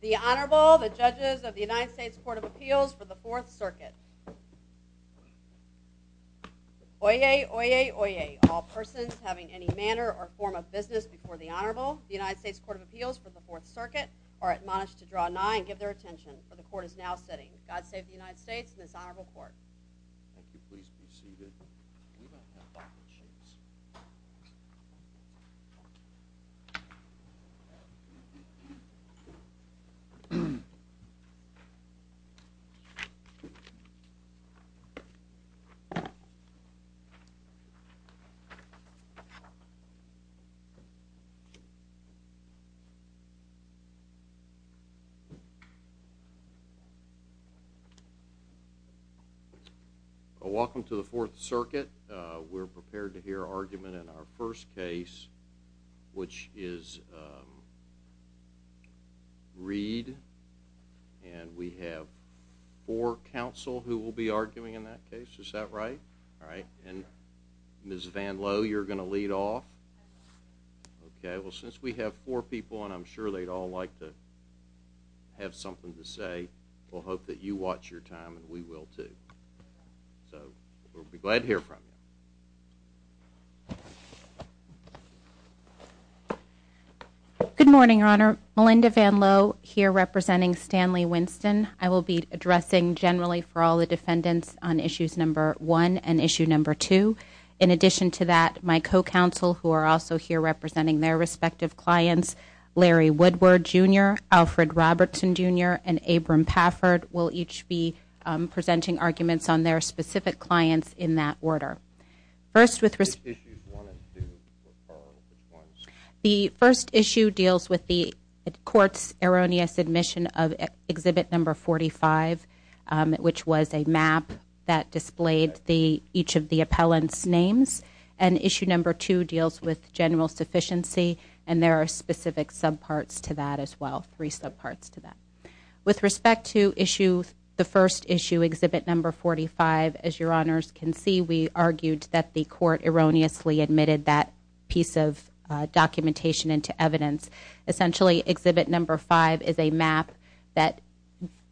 The Honorable, the Judges of the United States Court of Appeals for the Fourth Circuit. Oyez, oyez, oyez, all persons having any manner or form of business before the Honorable, the United States Court of Appeals for the Fourth Circuit, are admonished to draw nigh and give their attention, for the Court is now sitting. God save the United States and this Honorable Court. Thank you. Please be seated. Welcome to the Fourth Circuit. We're prepared to hear argument in our first case, which is Reed. And we have four counsel who will be arguing in that case. Is that right? All right. And Ms. Van Lowe, you're going to lead off. Okay. Well, since we have four people, and I'm sure they'd all like to have something to say, we'll hope that you watch your time and we will too. So we'll be glad to hear from you. Good morning, Your Honor. Melinda Van Lowe here representing Stanley Winston. I will be addressing generally for all the defendants on Issues No. 1 and Issue No. 2. In addition to that, my co-counsel who are also here representing their respective clients, Larry Woodward, Jr., Alfred Robertson, Jr., and Abram Pafford, will each be presenting arguments on their specific clients in that order. Which issues do you want to refer? The first issue deals with the Court's erroneous admission of Exhibit No. 45, which was a map that displayed each of the appellant's names. And Issue No. 2 deals with general sufficiency, and there are specific subparts to that as well, three subparts to that. With respect to the first issue, Exhibit No. 45, as Your Honors can see, we argued that the Court erroneously admitted that piece of documentation into evidence. Essentially, Exhibit No. 5 is a map that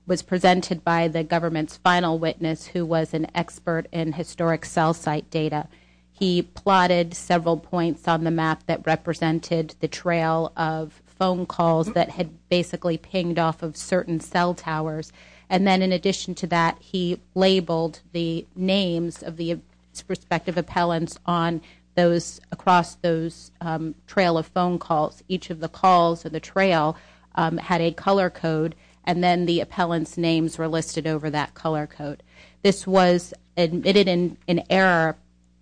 was presented by the government's final witness, who was an expert in historic cell site data. He plotted several points on the map that represented the trail of phone calls that had basically pinged off of certain cell towers. And then in addition to that, he labeled the names of the respective appellants across those trail of phone calls. Each of the calls of the trail had a color code, and then the appellant's names were listed over that color code. This was admitted in error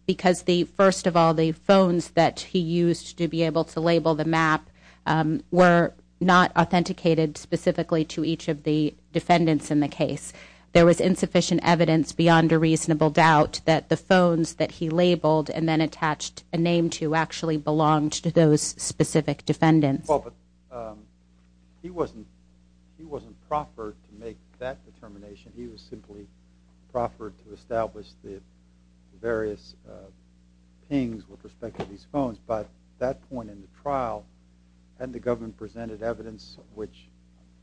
because, first of all, the phones that he used to be able to label the map were not authenticated specifically to each of the defendants in the case. There was insufficient evidence beyond a reasonable doubt that the phones that he labeled and then attached a name to actually belonged to those specific defendants. Well, but he wasn't proffered to make that determination. He was simply proffered to establish the various pings with respect to these phones. But at that point in the trial, hadn't the government presented evidence, which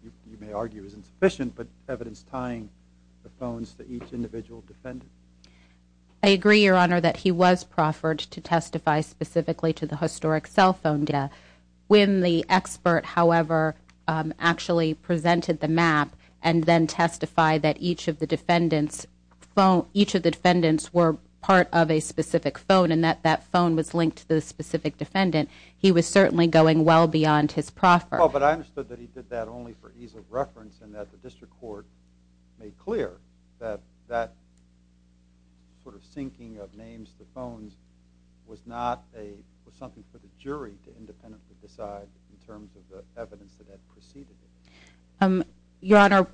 you may argue is insufficient, but evidence tying the phones to each individual defendant? I agree, Your Honor, that he was proffered to testify specifically to the historic cell phone data. When the expert, however, actually presented the map and then testified that each of the defendants were part of a specific phone and that that phone was linked to the specific defendant, he was certainly going well beyond his proffer. Well, but I understood that he did that only for ease of reference and that the district court made clear that that sort of syncing of names to phones was something for the jury to independently decide in terms of the evidence that had preceded it. Your Honor,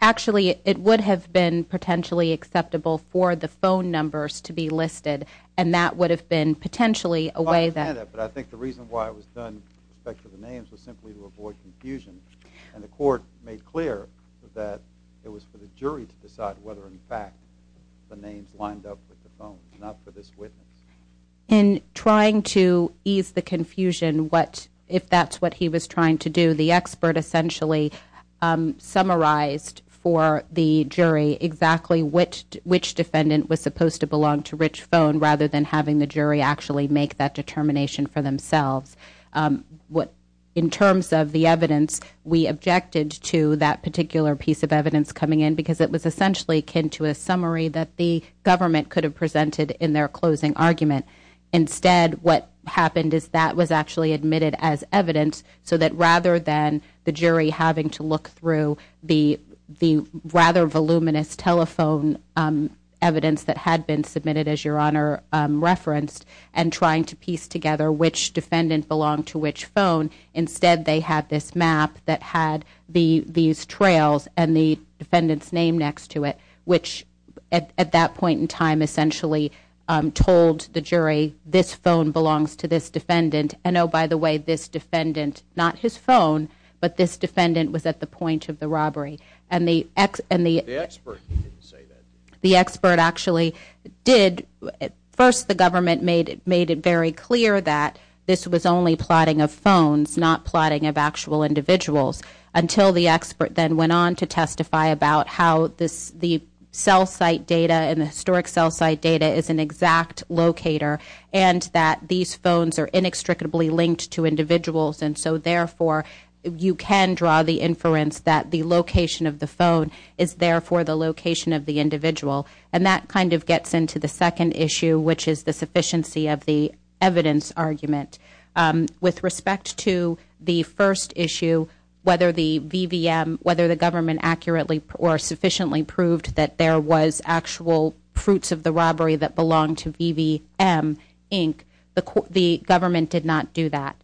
actually it would have been potentially acceptable for the phone numbers to be listed and that would have been potentially a way that… I understand that, but I think the reason why it was done with respect to the names was simply to avoid confusion. And the court made clear that it was for the jury to decide whether in fact the names lined up with the phones, not for this witness. In trying to ease the confusion, if that's what he was trying to do, the expert essentially summarized for the jury exactly which defendant was supposed to belong to which phone rather than having the jury actually make that determination for themselves. In terms of the evidence, we objected to that particular piece of evidence coming in because it was essentially akin to a summary that the government could have presented in their closing argument. Instead, what happened is that was actually admitted as evidence so that rather than the jury having to look through the rather voluminous telephone evidence that had been submitted, as Your Honor referenced, and trying to piece together which defendant belonged to which phone, instead they had this map that had these trails and the defendant's name next to it, which at that point in time essentially told the jury this phone belongs to this defendant. And oh, by the way, this defendant, not his phone, but this defendant was at the point of the robbery. And the… The expert didn't say that. The expert actually did… First, the government made it very clear that this was only plotting of phones, not plotting of actual individuals, until the expert then went on to testify about how the cell site data and the historic cell site data is an exact locator and that these phones are inextricably linked to individuals. And so, therefore, you can draw the inference that the location of the phone is therefore the location of the individual. And that kind of gets into the second issue, which is the sufficiency of the evidence argument. With respect to the first issue, whether the VVM, whether the government accurately or sufficiently proved that there was actual fruits of the robbery that belonged to VVM, Inc., the government did not do that.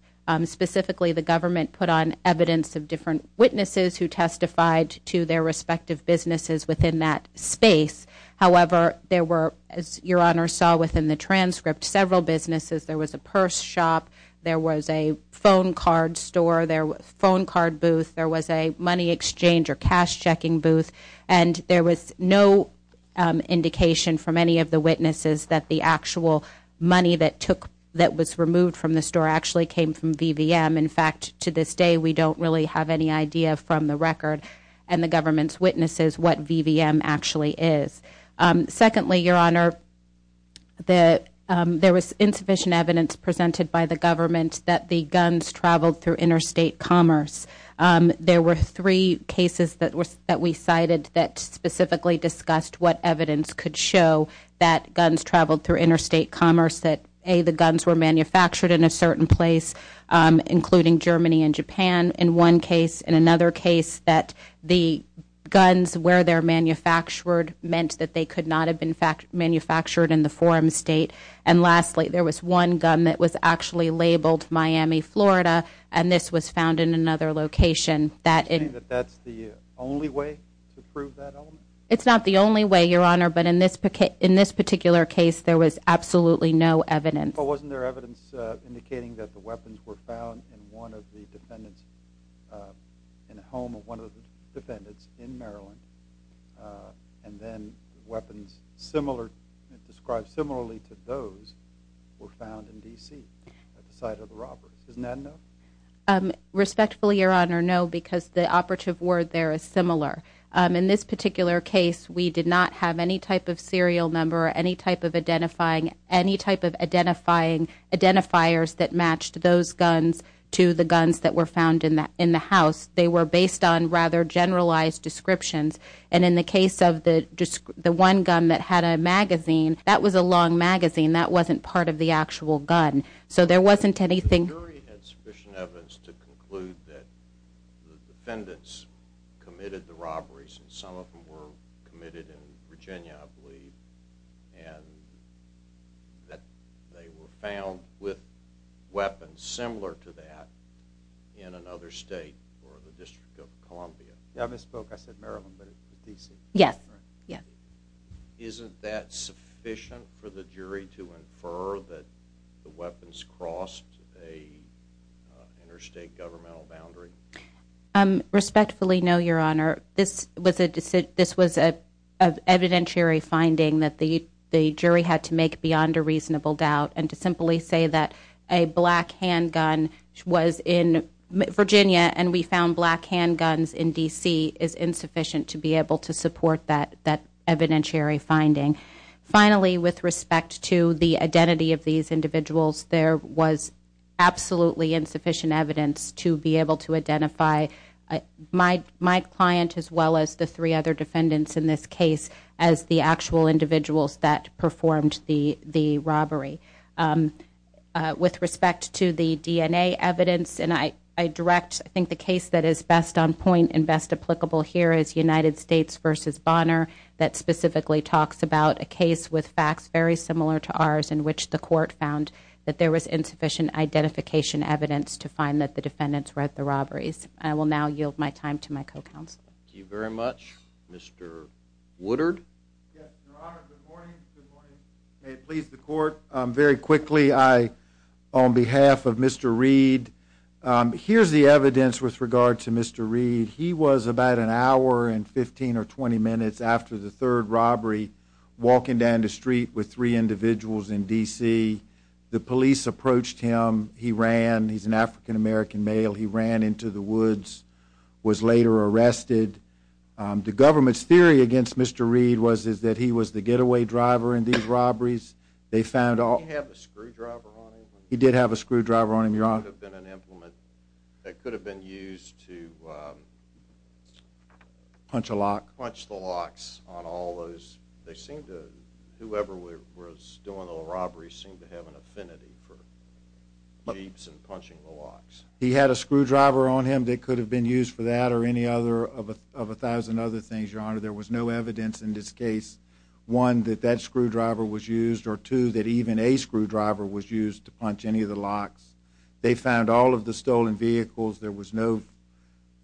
Specifically, the government put on evidence of different witnesses who testified to their respective businesses within that space. However, there were, as Your Honor saw within the transcript, several businesses. There was a purse shop. There was a phone card store. There was a phone card booth. There was a money exchange or cash checking booth. And there was no indication from any of the witnesses that the actual money that took… that was removed from the store actually came from VVM. In fact, to this day, we don't really have any idea from the record and the government's witnesses what VVM actually is. Secondly, Your Honor, there was insufficient evidence presented by the government that the guns traveled through interstate commerce. There were three cases that we cited that specifically discussed what evidence could show that guns traveled through interstate commerce, that A, the guns were manufactured in a certain place, including Germany and Japan in one case. In another case, that the guns where they're manufactured meant that they could not have been manufactured in the forum state. And lastly, there was one gun that was actually labeled Miami, Florida, and this was found in another location. You're saying that that's the only way to prove that element? It's not the only way, Your Honor, but in this particular case, there was absolutely no evidence. Well, wasn't there evidence indicating that the weapons were found in one of the defendants… in a home of one of the defendants in Maryland, and then weapons similar…described similarly to those were found in D.C. at the site of the robberies. Isn't that enough? Respectfully, Your Honor, no, because the operative word there is similar. In this particular case, we did not have any type of serial number, any type of identifying…any type of identifiers that matched those guns to the guns that were found in the house. They were based on rather generalized descriptions, and in the case of the one gun that had a magazine, that was a long magazine. That wasn't part of the actual gun, so there wasn't anything… The jury had sufficient evidence to conclude that the defendants committed the robberies, and some of them were committed in Virginia, I believe, and that they were found with weapons similar to that in another state or the District of Columbia. Yeah, I misspoke. I said Maryland, but it was D.C. Yes. Isn't that sufficient for the jury to infer that the weapons crossed an interstate governmental boundary? Respectfully, no, Your Honor. This was an evidentiary finding that the jury had to make beyond a reasonable doubt, and to simply say that a black handgun was in Virginia and we found black handguns in D.C. is insufficient to be able to support that evidentiary finding. Finally, with respect to the identity of these individuals, there was absolutely insufficient evidence to be able to identify my client as well as the three other defendants in this case as the actual individuals that performed the robbery. With respect to the DNA evidence, and I direct I think the case that is best on point and best applicable here is United States v. Bonner that specifically talks about a case with facts very similar to ours in which the court found that there was insufficient identification evidence to find that the defendants were at the robberies. I will now yield my time to my co-counsel. Thank you very much. Mr. Woodard? Yes, Your Honor. Good morning. May it please the court. Very quickly, on behalf of Mr. Reed, here's the evidence with regard to Mr. Reed. He was about an hour and 15 or 20 minutes after the third robbery walking down the street with three individuals in D.C. The police approached him. He ran. He's an African-American male. He ran into the woods, was later arrested. The government's theory against Mr. Reed was that he was the getaway driver in these robberies. Did he have a screwdriver on him? He did have a screwdriver on him, Your Honor. It could have been an implement. It could have been used to punch the locks on all those. They seemed to, whoever was doing the robberies, seemed to have an affinity for jeeps and punching the locks. He had a screwdriver on him that could have been used for that or any other of a thousand other things, Your Honor. There was no evidence in this case, one, that that screwdriver was used or two, that even a screwdriver was used to punch any of the locks. They found all of the stolen vehicles. There was no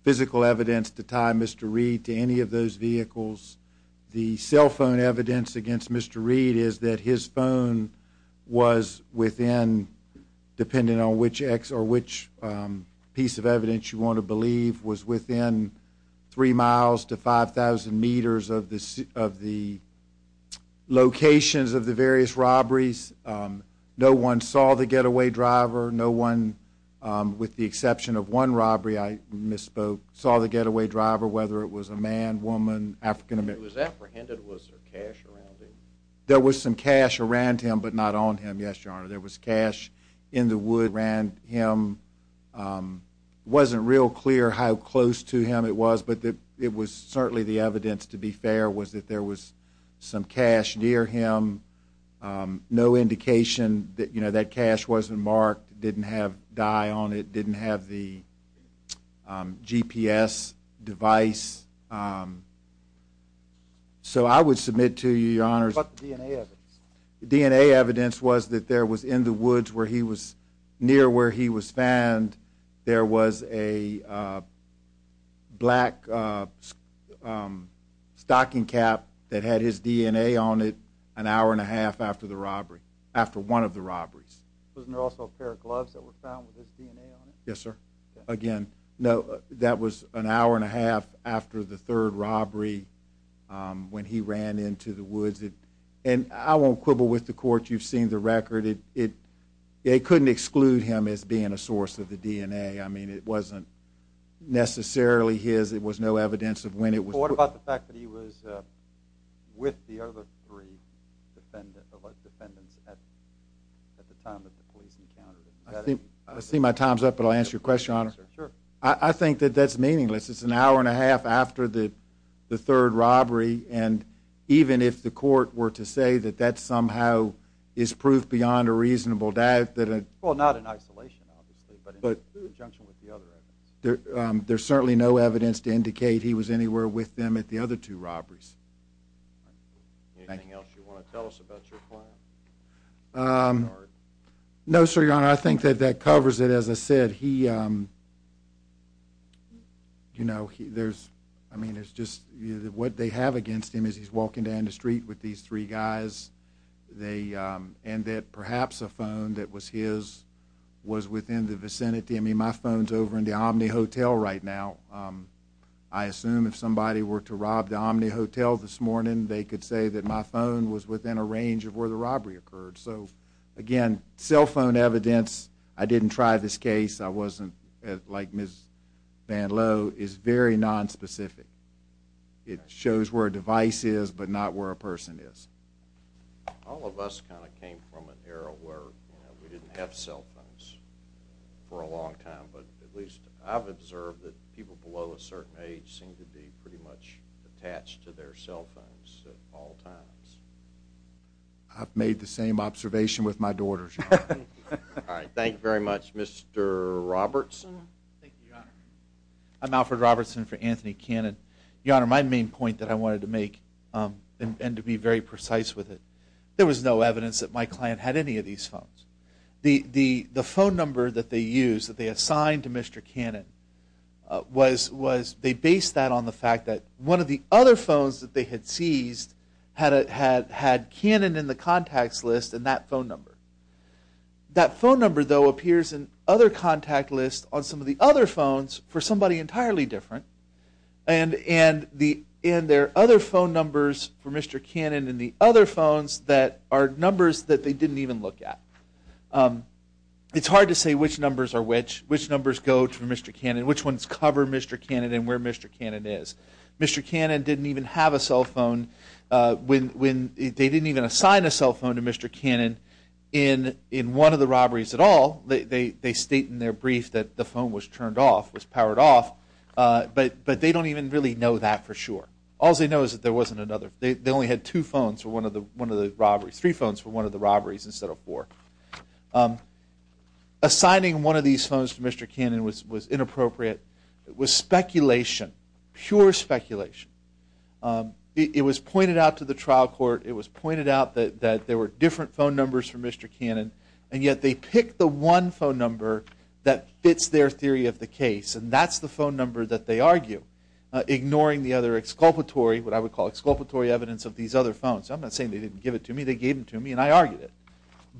physical evidence to tie Mr. Reed to any of those vehicles. The cell phone evidence against Mr. Reed is that his phone was within, depending on which piece of evidence you want to believe, was within 3 miles to 5,000 meters of the locations of the various robberies. No one saw the getaway driver. No one, with the exception of one robbery I misspoke, saw the getaway driver, whether it was a man, woman, African American. If he was apprehended, was there cash around him? There was some cash around him but not on him, yes, Your Honor. There was cash in the wood around him. It wasn't real clear how close to him it was, but it was certainly the evidence, to be fair, was that there was some cash near him. No indication that that cash wasn't marked, didn't have dye on it, didn't have the GPS device. So I would submit to you, Your Honor, What about the DNA evidence? DNA evidence was that there was in the woods where he was near where he was found, there was a black stocking cap that had his DNA on it an hour and a half after one of the robberies. Wasn't there also a pair of gloves that were found with his DNA on it? Yes, sir. Again, that was an hour and a half after the third robbery, when he ran into the woods. And I won't quibble with the court. You've seen the record. They couldn't exclude him as being a source of the DNA. I mean, it wasn't necessarily his. It was no evidence of when it was. What about the fact that he was with the other three defendants at the time that the police encountered him? I see my time's up, but I'll answer your question, Your Honor. I think that that's meaningless. It's an hour and a half after the third robbery, and even if the court were to say that that somehow is proof beyond a reasonable doubt. Well, not in isolation, obviously, but in conjunction with the other evidence. There's certainly no evidence to indicate he was anywhere with them at the other two robberies. Anything else you want to tell us about your client? No, sir, Your Honor. I think that that covers it. As I said, what they have against him is he's walking down the street with these three guys, and that perhaps a phone that was his was within the vicinity. I mean, my phone's over in the Omni Hotel right now. I assume if somebody were to rob the Omni Hotel this morning, they could say that my phone was within a range of where the robbery occurred. So, again, cell phone evidence, I didn't try this case, I wasn't like Ms. Van Lowe, is very nonspecific. It shows where a device is, but not where a person is. All of us kind of came from an era where we didn't have cell phones for a long time, but at least I've observed that people below a certain age seem to be pretty much attached to their cell phones at all times. I've made the same observation with my daughters, Your Honor. All right. Thank you very much. Mr. Robertson? Thank you, Your Honor. I'm Alfred Robertson for Anthony Cannon. Your Honor, my main point that I wanted to make, and to be very precise with it, there was no evidence that my client had any of these phones. The phone number that they used, that they assigned to Mr. Cannon, they based that on the fact that one of the other phones that they had seized had Cannon in the contacts list and that phone number. That phone number, though, appears in other contact lists on some of the other phones for somebody entirely different, and there are other phone numbers for Mr. Cannon in the other phones that are numbers that they didn't even look at. It's hard to say which numbers are which, which numbers go to Mr. Cannon, which ones cover Mr. Cannon and where Mr. Cannon is. Mr. Cannon didn't even have a cell phone. They didn't even assign a cell phone to Mr. Cannon in one of the robberies at all. They state in their brief that the phone was turned off, was powered off, but they don't even really know that for sure. All they know is that there wasn't another. They only had two phones for one of the robberies, or three phones for one of the robberies instead of four. Assigning one of these phones to Mr. Cannon was inappropriate. It was speculation, pure speculation. It was pointed out to the trial court. It was pointed out that there were different phone numbers for Mr. Cannon, and yet they picked the one phone number that fits their theory of the case, and that's the phone number that they argue, ignoring the other exculpatory, what I would call exculpatory evidence of these other phones. I'm not saying they didn't give it to me. They gave them to me, and I argued it.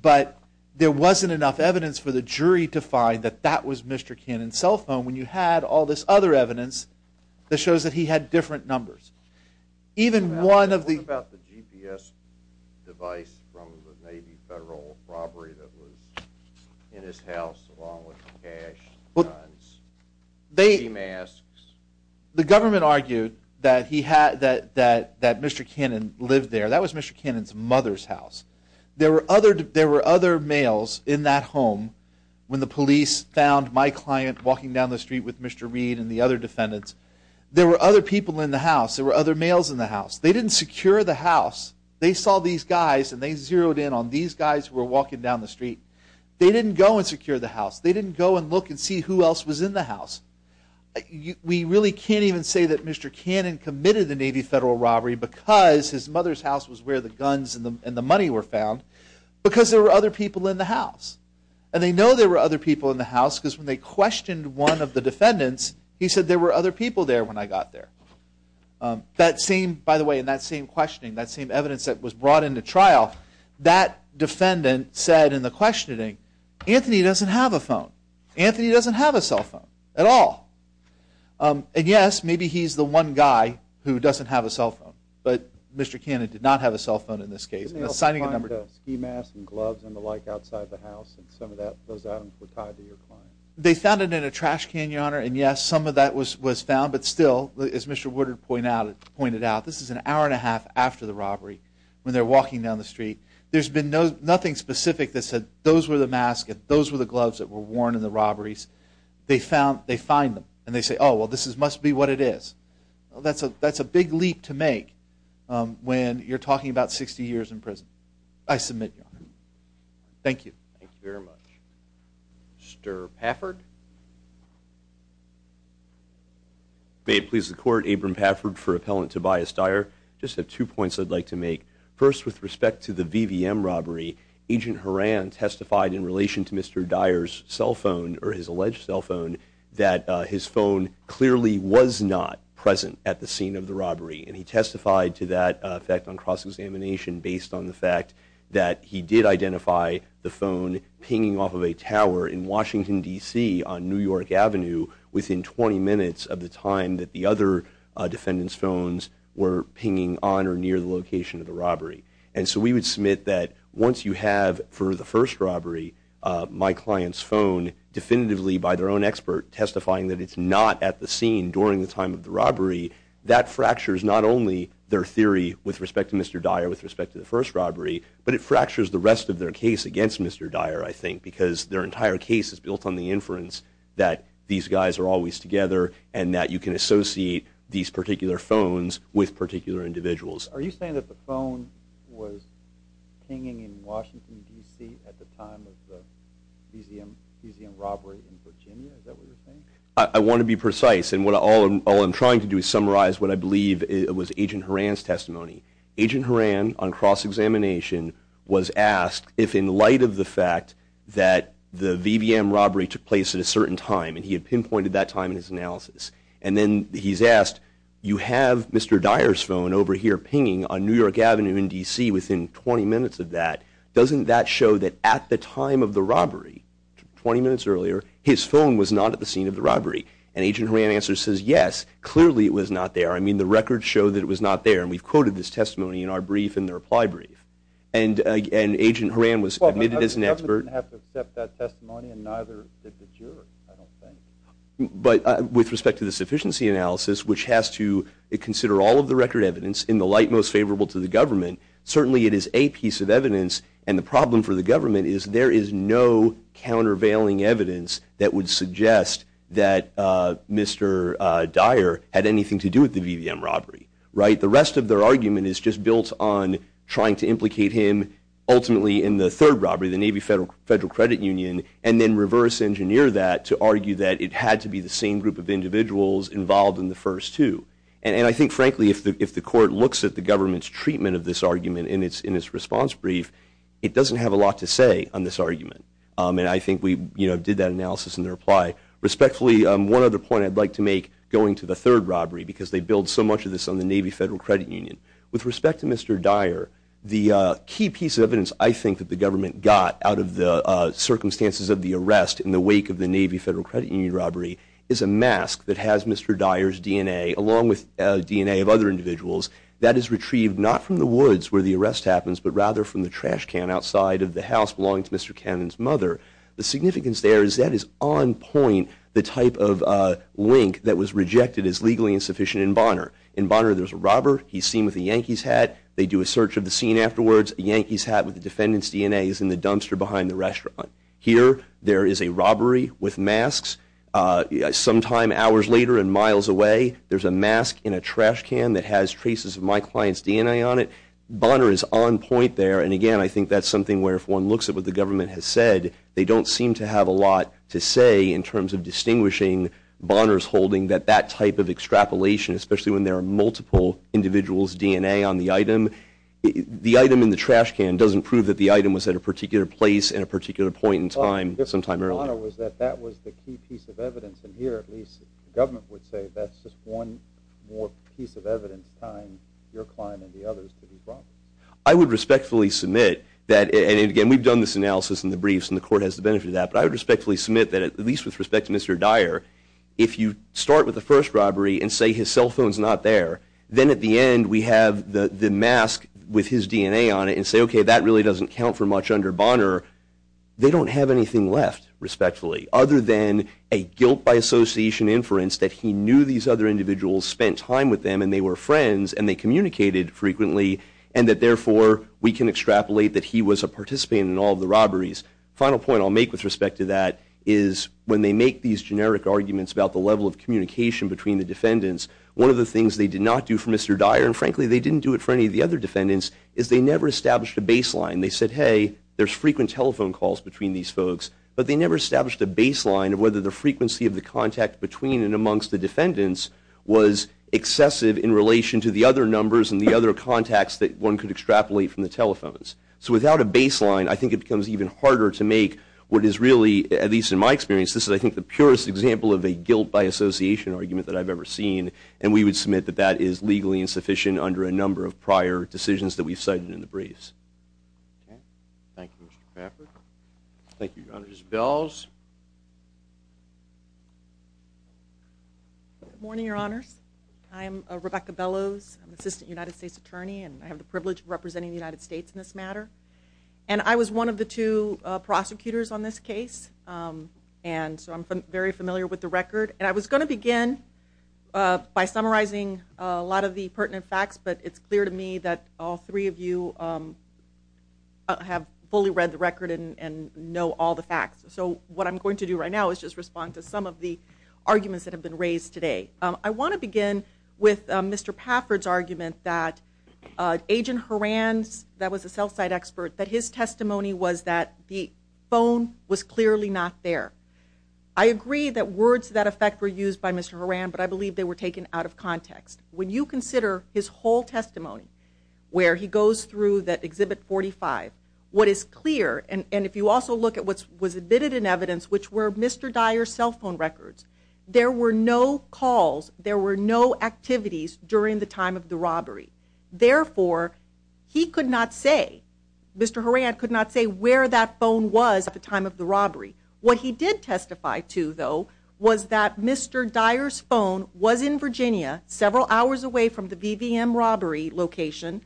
But there wasn't enough evidence for the jury to find that that was Mr. Cannon's cell phone when you had all this other evidence that shows that he had different numbers. Even one of the... What about the GPS device from the Navy Federal robbery that was in his house, along with cash, guns, sea masks? The government argued that Mr. Cannon lived there. That was Mr. Cannon's mother's house. There were other males in that home when the police found my client walking down the street with Mr. Reed and the other defendants. There were other people in the house. There were other males in the house. They didn't secure the house. They saw these guys, and they zeroed in on these guys who were walking down the street. They didn't go and secure the house. They didn't go and look and see who else was in the house. We really can't even say that Mr. Cannon committed the Navy Federal robbery because his mother's house was where the guns and the money were found because there were other people in the house. And they know there were other people in the house because when they questioned one of the defendants, he said there were other people there when I got there. That same... By the way, in that same questioning, that same evidence that was brought into trial, that defendant said in the questioning, Anthony doesn't have a phone. Anthony doesn't have a cell phone at all. And, yes, maybe he's the one guy who doesn't have a cell phone, but Mr. Cannon did not have a cell phone in this case. He was signing a number. Did they also find ski masks and gloves and the like outside the house? And some of those items were tied to your client? They found it in a trash can, Your Honor. And, yes, some of that was found. But still, as Mr. Woodard pointed out, this is an hour and a half after the robbery when they're walking down the street. There's been nothing specific that said those were the masks, those were the gloves that were worn in the robberies. They find them, and they say, oh, well, this must be what it is. That's a big leap to make when you're talking about 60 years in prison. I submit, Your Honor. Thank you. Thank you very much. Mr. Pafford? May it please the Court, Abram Pafford for Appellant Tobias Dyer. I just have two points I'd like to make. First, with respect to the VVM robbery, Agent Horan testified in relation to Mr. Dyer's cell phone or his alleged cell phone that his phone clearly was not present at the scene of the robbery. And he testified to that effect on cross-examination based on the fact that he did identify the phone pinging off of a tower in Washington, D.C., on New York Avenue within 20 minutes of the time that the other defendant's phones were pinging on or near the location of the robbery. And so we would submit that once you have, for the first robbery, my client's phone definitively, by their own expert, testifying that it's not at the scene during the time of the robbery, that fractures not only their theory with respect to Mr. Dyer, with respect to the first robbery, but it fractures the rest of their case against Mr. Dyer, I think, because their entire case is built on the inference that these guys are always together and that you can associate these particular phones with particular individuals. Are you saying that the phone was pinging in Washington, D.C., at the time of the VVM robbery in Virginia? Is that what you're saying? I want to be precise, and all I'm trying to do is summarize what I believe was Agent Horan's testimony. Agent Horan, on cross-examination, was asked if in light of the fact that the VVM robbery took place at a certain time, and he had pinpointed that time in his analysis. And then he's asked, you have Mr. Dyer's phone over here pinging on New York Avenue in D.C. within 20 minutes of that. Doesn't that show that at the time of the robbery, 20 minutes earlier, his phone was not at the scene of the robbery? And Agent Horan's answer says, yes, clearly it was not there. I mean, the records show that it was not there, and we've quoted this testimony in our brief and the reply brief. And Agent Horan was admitted as an expert. I wouldn't have to accept that testimony, and neither did the jury, I don't think. But with respect to the sufficiency analysis, which has to consider all of the record evidence in the light most favorable to the government, certainly it is a piece of evidence. And the problem for the government is there is no countervailing evidence that would suggest that Mr. Dyer had anything to do with the VVM robbery. The rest of their argument is just built on trying to implicate him ultimately in the third robbery, the Navy Federal Credit Union, and then reverse engineer that to argue that it had to be the same group of individuals involved in the first two. And I think, frankly, if the court looks at the government's treatment of this argument in its response brief, it doesn't have a lot to say on this argument. And I think we did that analysis in the reply. Respectfully, one other point I'd like to make going to the third robbery, because they build so much of this on the Navy Federal Credit Union. With respect to Mr. Dyer, the key piece of evidence I think that the government got out of the circumstances of the arrest in the wake of the Navy Federal Credit Union robbery is a mask that has Mr. Dyer's DNA along with DNA of other individuals that is retrieved not from the woods where the arrest happens, but rather from the trash can outside of the house belonging to Mr. Cannon's mother. The significance there is that is on point the type of link that was rejected as legally insufficient in Bonner. In Bonner, there's a robber. He's seen with a Yankees hat. They do a search of the scene afterwards. A Yankees hat with the defendant's DNA is in the dumpster behind the restaurant. Here, there is a robbery with masks. Sometime hours later and miles away, there's a mask in a trash can that has traces of my client's DNA on it. Bonner is on point there. And, again, I think that's something where if one looks at what the government has said, they don't seem to have a lot to say in terms of distinguishing Bonner's holding that that type of extrapolation, especially when there are multiple individuals' DNA on the item, the item in the trash can doesn't prove that the item was at a particular place at a particular point in time sometime earlier. Well, the difference with Bonner was that that was the key piece of evidence. And here, at least, the government would say that's just one more piece of evidence tying your client and the others to be Bonner. I would respectfully submit that, and, again, we've done this analysis in the briefs, and the court has the benefit of that, but I would respectfully submit that, at least with respect to Mr. Dyer, if you start with the first robbery and say his cell phone's not there, then at the end we have the mask with his DNA on it and say, okay, that really doesn't count for much under Bonner, they don't have anything left, respectfully, other than a guilt by association inference that he knew these other individuals spent time with them and they were friends and they communicated frequently, and that, therefore, we can extrapolate that he was a participant in all the robberies. Final point I'll make with respect to that is when they make these generic arguments about the level of communication between the defendants, one of the things they did not do for Mr. Dyer, and, frankly, they didn't do it for any of the other defendants, is they never established a baseline. They said, hey, there's frequent telephone calls between these folks, but they never established a baseline of whether the frequency of the contact between and amongst the defendants was excessive in relation to the other numbers and the other contacts that one could extrapolate from the telephones. So without a baseline, I think it becomes even harder to make what is really, at least in my experience, this is, I think, the purest example of a guilt by association argument that I've ever seen, and we would submit that that is legally insufficient under a number of prior decisions that we've cited in the briefs. Okay. Thank you, Mr. Crapper. Thank you, Your Honor. Ms. Bellows? Good morning, Your Honors. I am Rebecca Bellows. I'm an assistant United States attorney, and I have the privilege of representing the United States in this matter. And I was one of the two prosecutors on this case, and so I'm very familiar with the record. And I was going to begin by summarizing a lot of the pertinent facts, but it's clear to me that all three of you have fully read the record and know all the facts. So what I'm going to do right now is just respond to some of the arguments that have been raised today. I want to begin with Mr. Pafford's argument that Agent Horan's, that was a cell site expert, that his testimony was that the phone was clearly not there. I agree that words to that effect were used by Mr. Horan, but I believe they were taken out of context. When you consider his whole testimony, where he goes through that Exhibit 45, what is clear, and if you also look at what was admitted in evidence, which were Mr. Dyer's cell phone records, there were no calls, there were no activities during the time of the robbery. Therefore, he could not say, Mr. Horan could not say where that phone was at the time of the robbery. What he did testify to, though, was that Mr. Dyer's phone was in Virginia, several hours away from the VVM robbery location,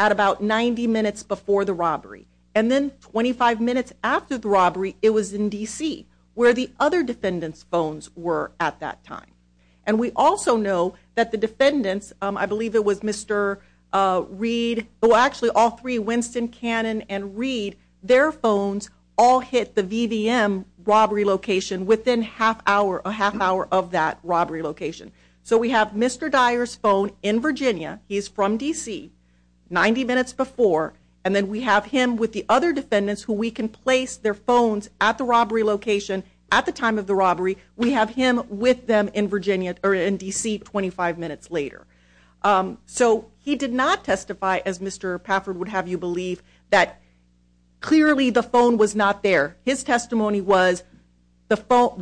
at about 90 minutes before the robbery. And then 25 minutes after the robbery, it was in D.C., where the other defendants' phones were at that time. And we also know that the defendants, I believe it was Mr. Reed, well, actually all three, Winston, Cannon, and Reed, their phones all hit the VVM robbery location within a half hour of that robbery location. So we have Mr. Dyer's phone in Virginia, he's from D.C., 90 minutes before, and then we have him with the other defendants who we can place their phones at the robbery location at the time of the robbery, we have him with them in D.C. 25 minutes later. So he did not testify, as Mr. Pafford would have you believe, that clearly the phone was not there. His testimony was,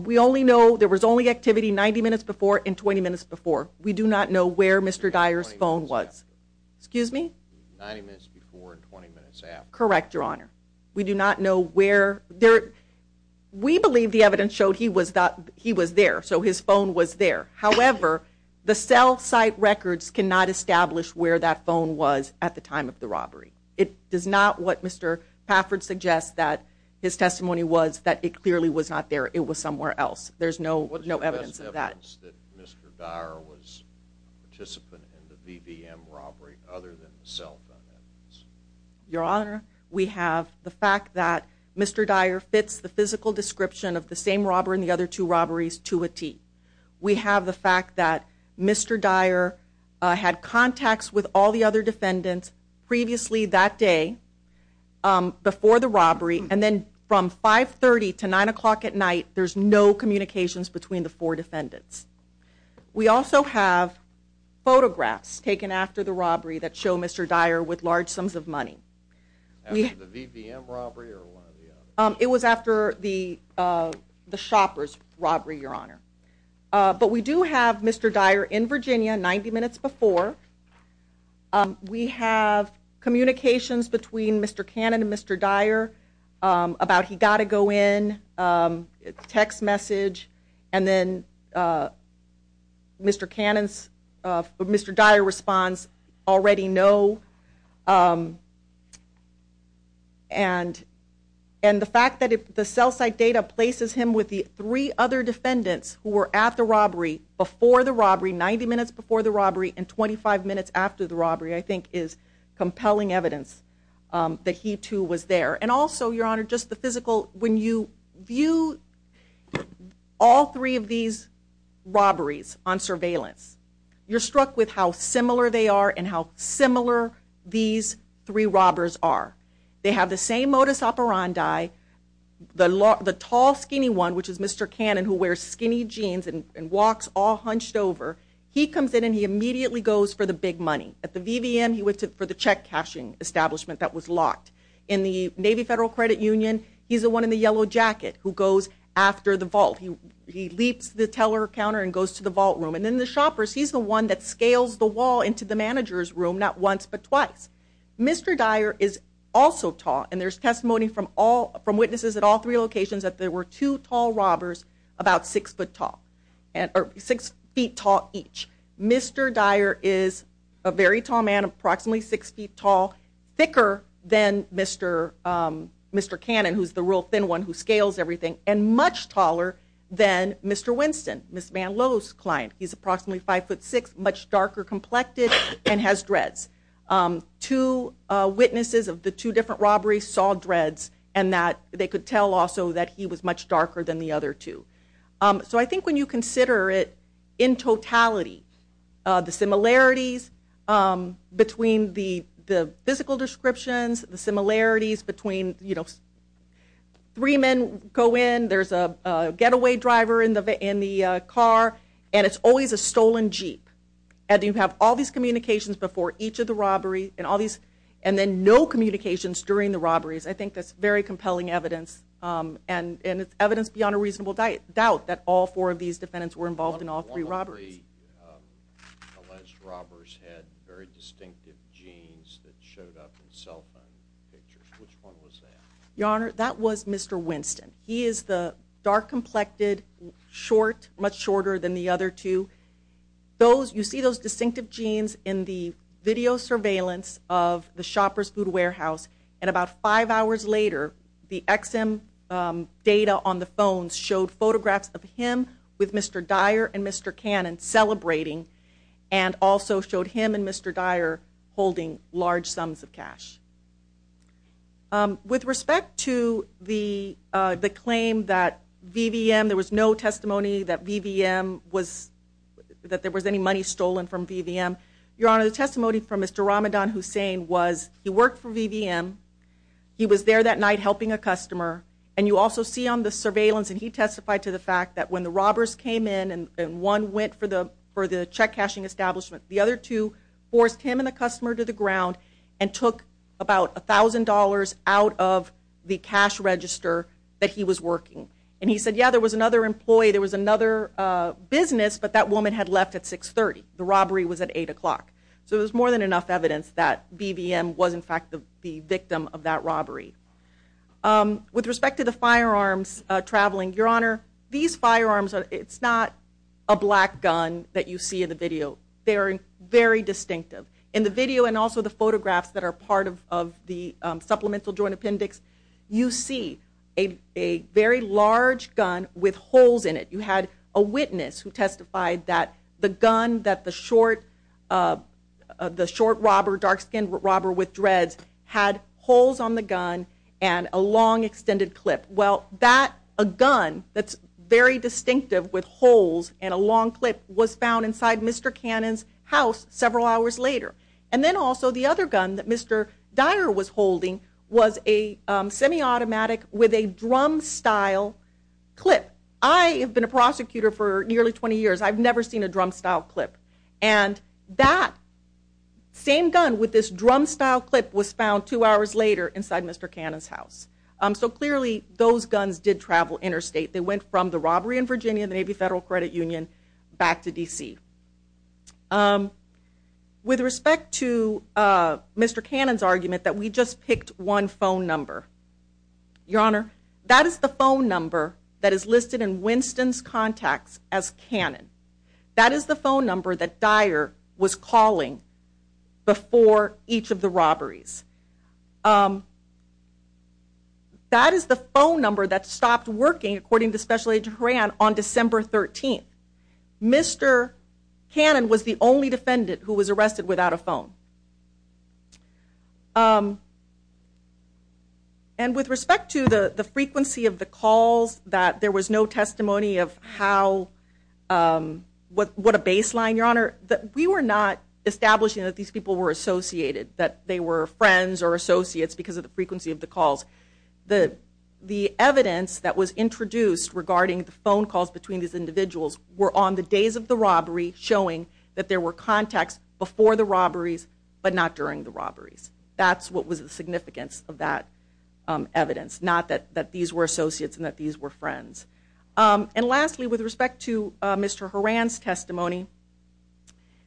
we only know there was only activity 90 minutes before and 20 minutes before. We do not know where Mr. Dyer's phone was. Excuse me? 90 minutes before and 20 minutes after. Correct, Your Honor. We do not know where, we believe the evidence showed he was there, so his phone was there. However, the cell site records cannot establish where that phone was at the time of the robbery. It is not what Mr. Pafford suggests that his testimony was, that it clearly was not there, it was somewhere else. There's no evidence of that. There's no evidence that Mr. Dyer was a participant in the VVM robbery other than the cell phone evidence. Your Honor, we have the fact that Mr. Dyer fits the physical description of the same robber and the other two robberies to a T. We have the fact that Mr. Dyer had contacts with all the other defendants previously that day, before the robbery, and then from 530 to 9 o'clock at night, there's no communications between the four defendants. We also have photographs taken after the robbery that show Mr. Dyer with large sums of money. After the VVM robbery or one of the others? It was after the shopper's robbery, Your Honor. But we do have Mr. Dyer in Virginia 90 minutes before. We have communications between Mr. Cannon and Mr. Dyer about he got to go in, text message, and then Mr. Dyer responds, already no. And the fact that the cell site data places him with the three other defendants who were at the robbery, before the robbery, 90 minutes before the robbery, and 25 minutes after the robbery, I think is compelling evidence that he too was there. And also, Your Honor, just the physical, when you view all three of these robberies on surveillance, you're struck with how similar they are and how similar these three robbers are. They have the same modus operandi. The tall, skinny one, which is Mr. Cannon, who wears skinny jeans and walks all hunched over, he comes in and he immediately goes for the big money. At the VVM, he went for the check-cashing establishment that was locked. In the Navy Federal Credit Union, he's the one in the yellow jacket who goes after the vault. He leaps the teller counter and goes to the vault room. And then the shoppers, he's the one that scales the wall into the manager's room, not once but twice. Mr. Dyer is also tall, and there's testimony from witnesses at all three locations that there were two tall robbers about six feet tall each. Mr. Dyer is a very tall man, approximately six feet tall, thicker than Mr. Cannon, who's the real thin one who scales everything, and much taller than Mr. Winston, Ms. Van Lowe's client. He's approximately 5'6", much darker complected, and has dreads. Two witnesses of the two different robberies saw dreads and that they could tell also that he was much darker than the other two. So I think when you consider it in totality, the similarities between the physical descriptions, the similarities between, you know, three men go in, there's a getaway driver in the car, and it's always a stolen Jeep. And you have all these communications before each of the robberies, and then no communications during the robberies. I think that's very compelling evidence, and it's evidence beyond a reasonable doubt that all four of these defendants were involved in all three robberies. One of the three alleged robbers had very distinctive jeans that showed up in cell phone pictures. Which one was that? Your Honor, that was Mr. Winston. He is the dark complected, short, much shorter than the other two. You see those distinctive jeans in the video surveillance of the Shopper's Food Warehouse and about five hours later the XM data on the phones showed photographs of him with Mr. Dyer and Mr. Cannon celebrating and also showed him and Mr. Dyer holding large sums of cash. With respect to the claim that VVM, there was no testimony that VVM was, that there was any money stolen from VVM, Your Honor, the testimony from Mr. Ramadan Hussain was he worked for VVM. He was there that night helping a customer, and you also see on the surveillance, and he testified to the fact that when the robbers came in and one went for the check cashing establishment, the other two forced him and the customer to the ground and took about $1,000 out of the cash register that he was working. And he said, yeah, there was another employee, there was another business, but that woman had left at 630. The robbery was at 8 o'clock. So there was more than enough evidence that VVM was in fact the victim of that robbery. With respect to the firearms traveling, Your Honor, these firearms, it's not a black gun that you see in the video. They are very distinctive. In the video and also the photographs that are part of the supplemental joint appendix, you see a very large gun with holes in it. You had a witness who testified that the gun that the short robber, dark-skinned robber with dreads, had holes on the gun and a long extended clip. Well, a gun that's very distinctive with holes and a long clip was found inside Mr. Cannon's house several hours later. And then also the other gun that Mr. Dyer was holding was a semi-automatic with a drum-style clip. I have been a prosecutor for nearly 20 years. I've never seen a drum-style clip. And that same gun with this drum-style clip was found two hours later inside Mr. Cannon's house. So clearly those guns did travel interstate. They went from the robbery in Virginia, the Navy Federal Credit Union, back to D.C. With respect to Mr. Cannon's argument that we just picked one phone number, Your Honor, that is the phone number that is listed in Winston's contacts as Cannon. That is the phone number that Dyer was calling before each of the robberies. That is the phone number that stopped working, according to Special Agent Horan, on December 13th. Mr. Cannon was the only defendant who was arrested without a phone. And with respect to the frequency of the calls, that there was no testimony of what a baseline, Your Honor, we were not establishing that these people were associated, that they were friends or associates because of the frequency of the calls. The evidence that was introduced regarding the phone calls between these individuals were on the days of the robbery, showing that there were contacts before the robberies but not during the robberies. That's what was the significance of that evidence, not that these were associates and that these were friends. And lastly, with respect to Mr. Horan's testimony,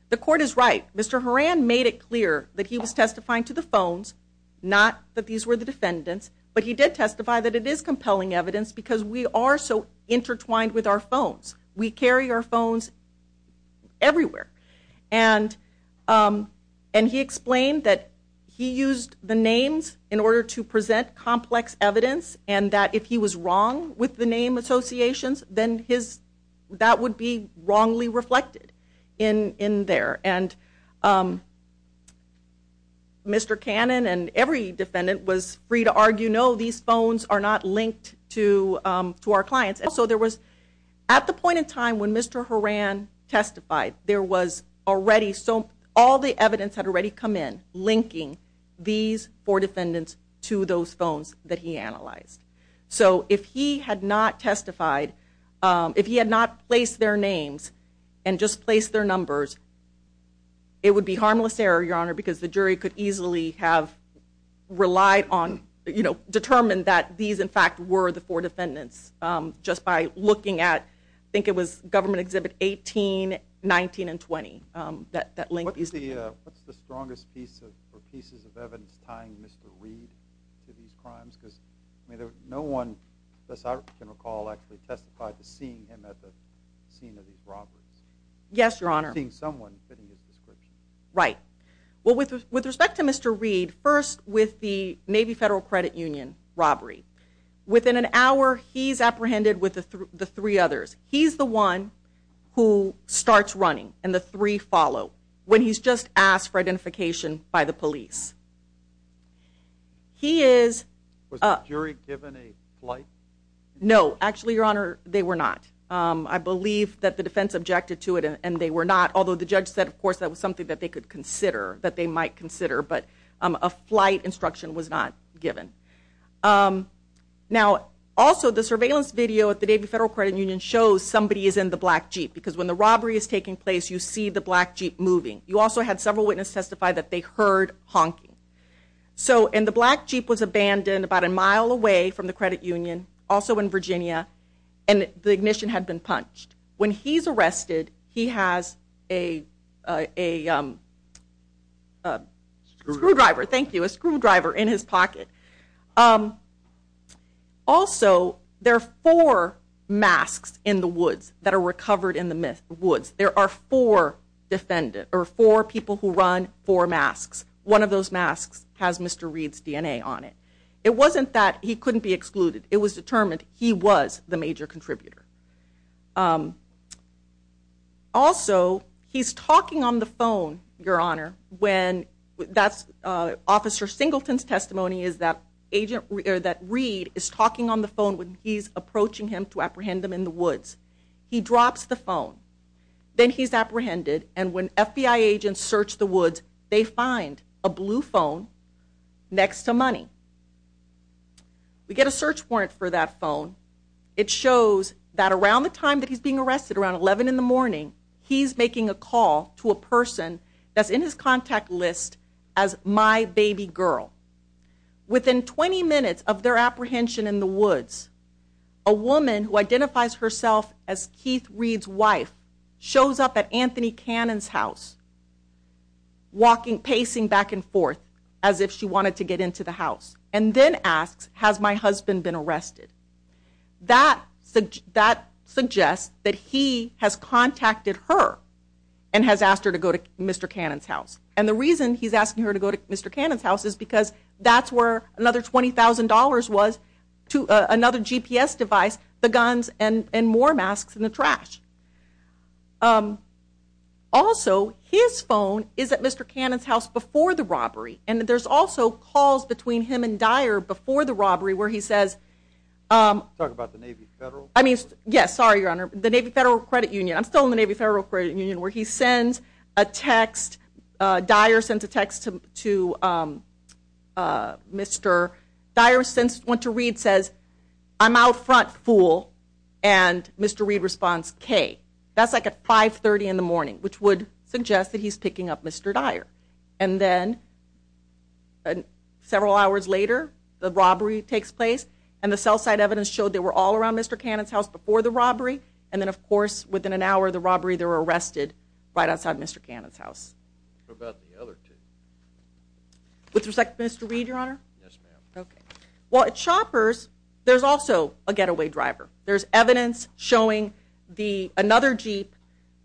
the court is right. Mr. Horan made it clear that he was testifying to the phones, not that these were the defendants, but he did testify that it is compelling evidence because we are so intertwined with our phones. We carry our phones everywhere. And he explained that he used the names in order to present complex evidence and that if he was wrong with the name associations, then that would be wrongly reflected in there. And Mr. Cannon and every defendant was free to argue, no, these phones are not linked to our clients. So there was, at the point in time when Mr. Horan testified, there was already some, all the evidence had already come in linking these four defendants to those phones that he analyzed. So if he had not testified, if he had not placed their names and just placed their numbers, it would be harmless error, Your Honor, because the jury could easily have relied on, you know, determined that these in fact were the four defendants just by looking at, I think it was Government Exhibit 18, 19, and 20. What's the strongest piece or pieces of evidence tying Mr. Reed to these crimes? Because no one, as far as I can recall, actually testified to seeing him at the scene of these robberies. Yes, Your Honor. Seeing someone fitting his description. Right. Well, with respect to Mr. Reed, first with the Navy Federal Credit Union robbery, within an hour he's apprehended with the three others. He's the one who starts running and the three follow when he's just asked for identification by the police. He is... Was the jury given a flight? No, actually, Your Honor, they were not. I believe that the defense objected to it and they were not, although the judge said, of course, that was something that they could consider, that they might consider, but a flight instruction was not given. Now, also the surveillance video at the Navy Federal Credit Union shows somebody is in the black Jeep because when the robbery is taking place you see the black Jeep moving. You also had several witnesses testify that they heard honking. And the black Jeep was abandoned about a mile away from the credit union, also in Virginia, and the ignition had been punched. When he's arrested, he has a screwdriver in his pocket. Also, there are four masks in the woods that are recovered in the woods. There are four people who run four masks. One of those masks has Mr. Reed's DNA on it. It was determined he was the major contributor. Also, he's talking on the phone, Your Honor, when that's Officer Singleton's testimony is that Reed is talking on the phone when he's approaching him to apprehend him in the woods. He drops the phone. Then he's apprehended, and when FBI agents search the woods, they find a blue phone next to money. We get a search warrant for that phone. It shows that around the time that he's being arrested, around 11 in the morning, he's making a call to a person that's in his contact list as my baby girl. Within 20 minutes of their apprehension in the woods, a woman who identifies herself as Keith Reed's wife shows up at Anthony Cannon's house, pacing back and forth as if she wanted to get into the house, and then asks, Has my husband been arrested? That suggests that he has contacted her and has asked her to go to Mr. Cannon's house. And the reason he's asking her to go to Mr. Cannon's house is because that's where another $20,000 was to another GPS device, the guns, and more masks in the trash. Also, his phone is at Mr. Cannon's house before the robbery, and there's also calls between him and Dyer before the robbery where he says, Talk about the Navy Federal? Yes, sorry, Your Honor. The Navy Federal Credit Union. I'm still in the Navy Federal Credit Union, where he sends a text. Dyer sends a text to Mr. Dyer went to Reed and says, I'm out front, fool. And Mr. Reed responds, K. That's like at 530 in the morning, which would suggest that he's picking up Mr. Dyer. And then several hours later, the robbery takes place, and the cell site evidence showed they were all around Mr. Cannon's house before the robbery, and then, of course, within an hour of the robbery, they were arrested right outside Mr. Cannon's house. What about the other two? With respect to Mr. Reed, Your Honor? Yes, ma'am. Okay. Well, at Shopper's, there's also a getaway driver. There's evidence showing another Jeep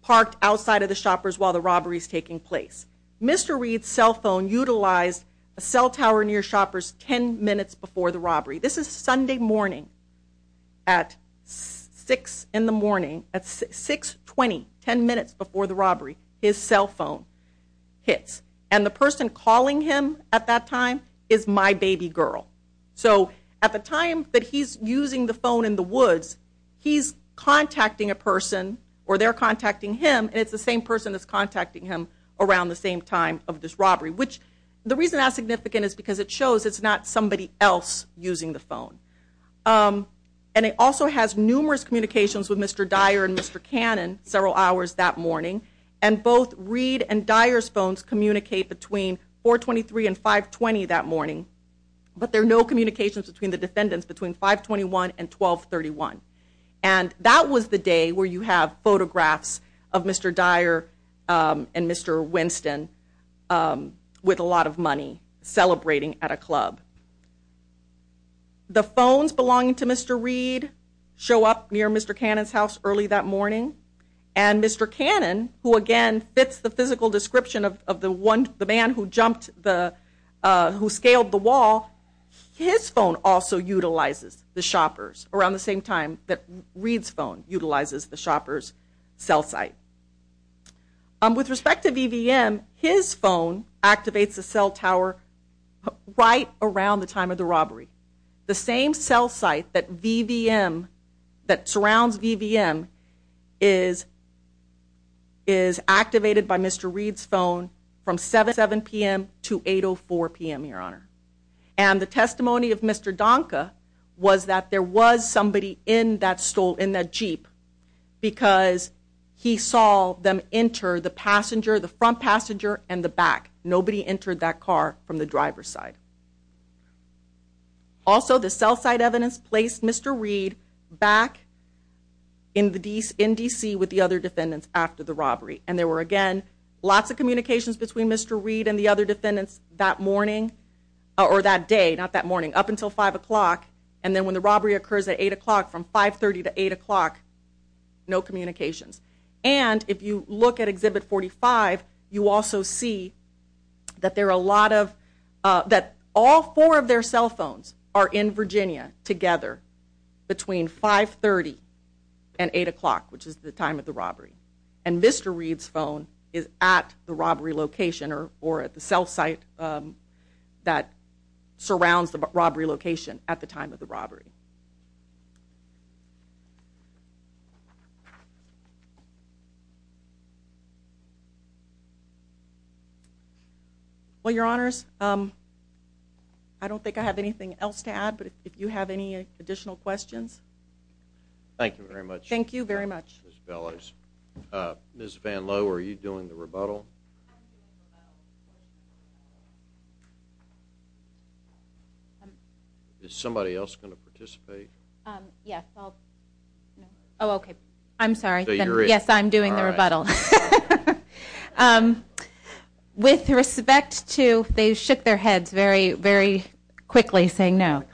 parked outside of the Shopper's while the robbery is taking place. Mr. Reed's cell phone utilized a cell tower near Shopper's 10 minutes before the robbery. This is Sunday morning at 6 in the morning. At 620, 10 minutes before the robbery, his cell phone hits, and the person calling him at that time is my baby girl. So at the time that he's using the phone in the woods, he's contacting a person or they're contacting him, and it's the same person that's contacting him around the same time of this robbery, which the reason that's significant is because it shows it's not somebody else using the phone. And it also has numerous communications with Mr. Dyer and Mr. Cannon several hours that morning, and both Reed and Dyer's phones communicate between 423 and 520 that morning, but there are no communications between the defendants between 521 and 1231. And that was the day where you have photographs of Mr. Dyer and Mr. Winston with a lot of money celebrating at a club. The phones belonging to Mr. Reed show up near Mr. Cannon's house early that morning, and Mr. Cannon, who again fits the physical description of the man who scaled the wall, his phone also utilizes the shopper's around the same time that Reed's phone utilizes the shopper's cell site. With respect to VVM, his phone activates the cell tower right around the time of the robbery. The same cell site that surrounds VVM is activated by Mr. Reed's phone from 7 p.m. to 8.04 p.m., Your Honor. And the testimony of Mr. Donka was that there was somebody in that Jeep because he saw them enter the front passenger and the back. Nobody entered that car from the driver's side. Also, the cell site evidence placed Mr. Reed back in D.C. with the other defendants after the robbery. And there were, again, lots of communications between Mr. Reed and the other defendants that morning, or that day, not that morning, up until 5 o'clock. And then when the robbery occurs at 8 o'clock, from 530 to 8 o'clock, no communications. And if you look at Exhibit 45, you also see that there are a lot of, that all four of their cell phones are in Virginia together between 530 and 8 o'clock, which is the time of the robbery. And Mr. Reed's phone is at the robbery location or at the cell site that surrounds the robbery location at the time of the robbery. Well, Your Honors, I don't think I have anything else to add, but if you have any additional questions. Thank you very much. Thank you very much. Ms. Van Lowe, are you doing the rebuttal? Is somebody else going to participate? Yes. Oh, okay. I'm sorry. Yes, I'm doing the rebuttal. With respect to, they shook their heads very, very quickly saying no.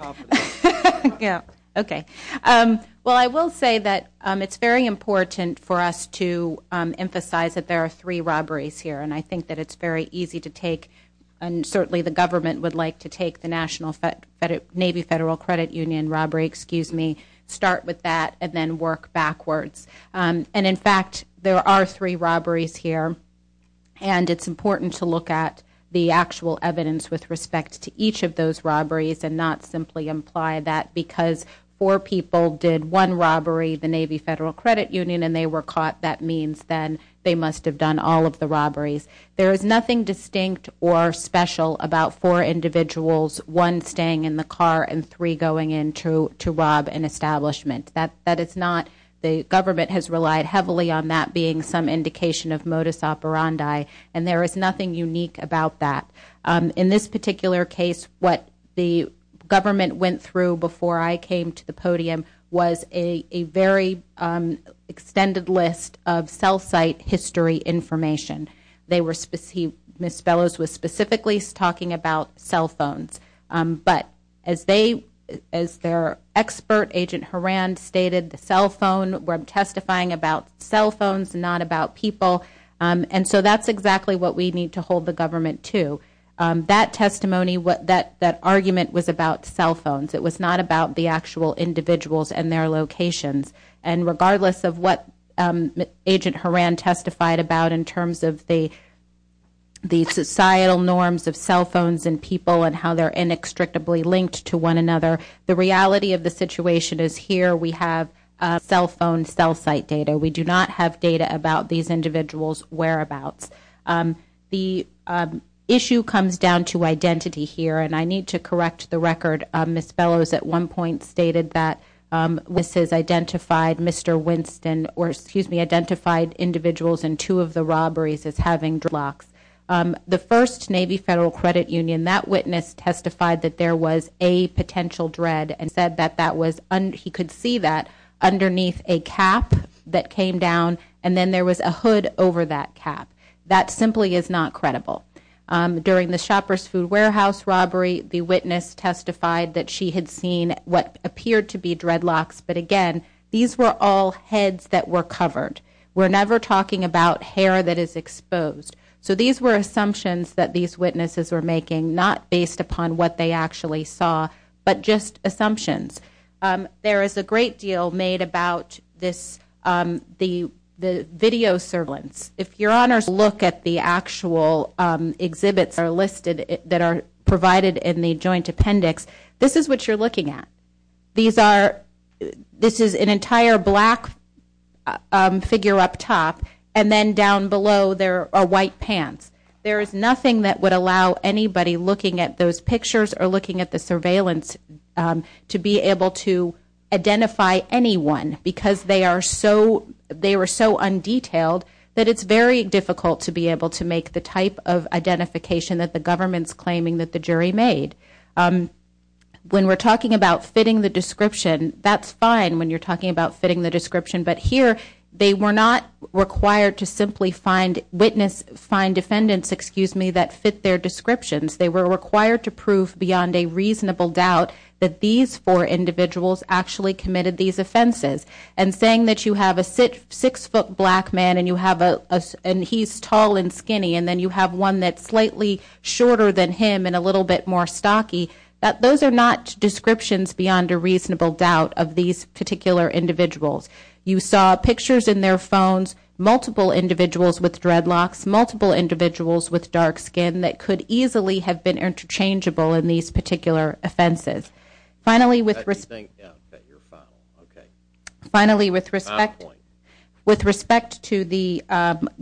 Yeah. Okay. Well, I will say that it's very important for us to emphasize that there are three robberies here. And I think that it's very easy to take, and certainly the government would like to take the Navy Federal Credit Union robbery, start with that, and then work backwards. And, in fact, there are three robberies here. And it's important to look at the actual evidence with respect to each of those robberies and not simply imply that because four people did one robbery, the Navy Federal Credit Union, and they were caught, that means then they must have done all of the robberies. There is nothing distinct or special about four individuals, one staying in the car and three going in to rob an establishment. That is not, the government has relied heavily on that being some indication of modus operandi, and there is nothing unique about that. In this particular case, what the government went through before I came to the podium was a very extended list of cell site history information. They were, Ms. Bellows was specifically talking about cell phones. But as they, as their expert, Agent Horan, stated, the cell phone, we're testifying about cell phones, not about people. And so that's exactly what we need to hold the government to. That testimony, that argument was about cell phones. It was not about the actual individuals and their locations. And regardless of what Agent Horan testified about in terms of the societal norms of cell phones and people and how they're inextricably linked to one another, the reality of the situation is here we have cell phone cell site data. We do not have data about these individuals' whereabouts. The issue comes down to identity here, and I need to correct the record. Ms. Bellows at one point stated that witnesses identified Mr. Winston, or excuse me, identified individuals in two of the robberies as having dreadlocks. The first Navy Federal Credit Union, that witness testified that there was a potential dread and said that that was, he could see that underneath a cap that came down, and then there was a hood over that cap. That simply is not credible. During the Shopper's Food Warehouse robbery, the witness testified that she had seen what appeared to be dreadlocks, but again, these were all heads that were covered. We're never talking about hair that is exposed. So these were assumptions that these witnesses were making, not based upon what they actually saw, but just assumptions. There is a great deal made about this, the video surveillance. If your honors look at the actual exhibits that are listed, that are provided in the joint appendix, this is what you're looking at. These are, this is an entire black figure up top, and then down below there are white pants. There is nothing that would allow anybody looking at those pictures or looking at the surveillance to be able to identify anyone, because they are so, they were so undetailed that it's very difficult to be able to make the type of identification that the government's claiming that the jury made. When we're talking about fitting the description, but here they were not required to simply find witness, find defendants, excuse me, that fit their descriptions. They were required to prove beyond a reasonable doubt that these four individuals actually committed these offenses. And saying that you have a six-foot black man and you have a, and he's tall and skinny, and then you have one that's slightly shorter than him and a little bit more stocky, those are not descriptions beyond a reasonable doubt of these particular individuals. You saw pictures in their phones, multiple individuals with dreadlocks, multiple individuals with dark skin that could easily have been interchangeable in these particular offenses. Finally, with respect to the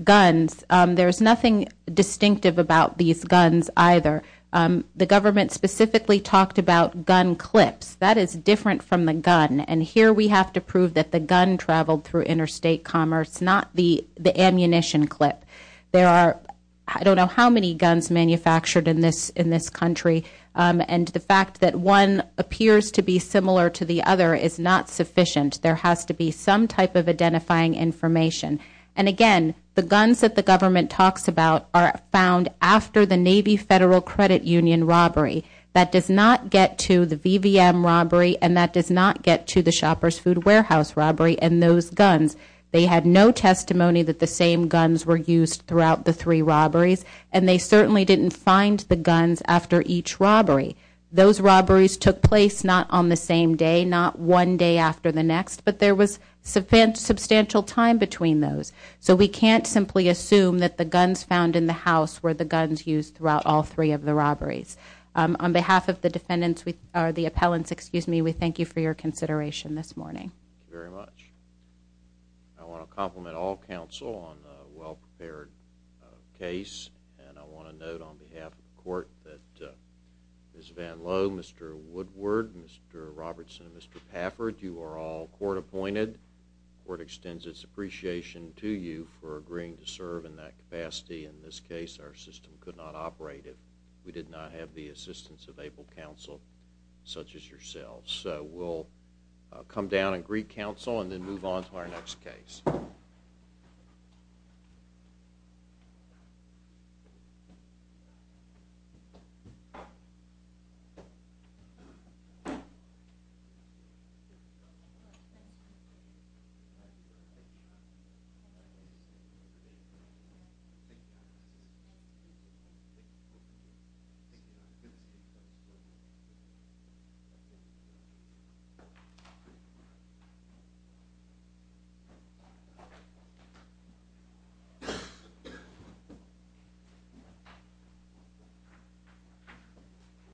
guns, there's nothing distinctive about these guns either. The government specifically talked about gun clips. That is different from the gun, and here we have to prove that the gun traveled through interstate commerce, not the ammunition clip. There are, I don't know how many guns manufactured in this country, and the fact that one appears to be similar to the other is not sufficient. There has to be some type of identifying information. And again, the guns that the government talks about are found after the Navy Federal Credit Union robbery. That does not get to the VVM robbery and that does not get to the Shopper's Food Warehouse robbery and those guns. They had no testimony that the same guns were used throughout the three robberies, and they certainly didn't find the guns after each robbery. Those robberies took place not on the same day, not one day after the next, but there was substantial time between those. So we can't simply assume that the guns found in the house were the guns used throughout all three of the robberies. On behalf of the defendants, or the appellants, excuse me, we thank you for your consideration this morning. Thank you very much. I want to compliment all counsel on a well-prepared case, and I want to note on behalf of the court that Ms. Van Lowe, Mr. Woodward, Mr. Robertson, and Mr. Pafford, you are all court-appointed. The court extends its appreciation to you for agreeing to serve in that capacity. In this case, our system could not operate if we did not have the assistance of able counsel such as yourselves. So we'll come down and greet counsel and then move on to our next case. Thank you.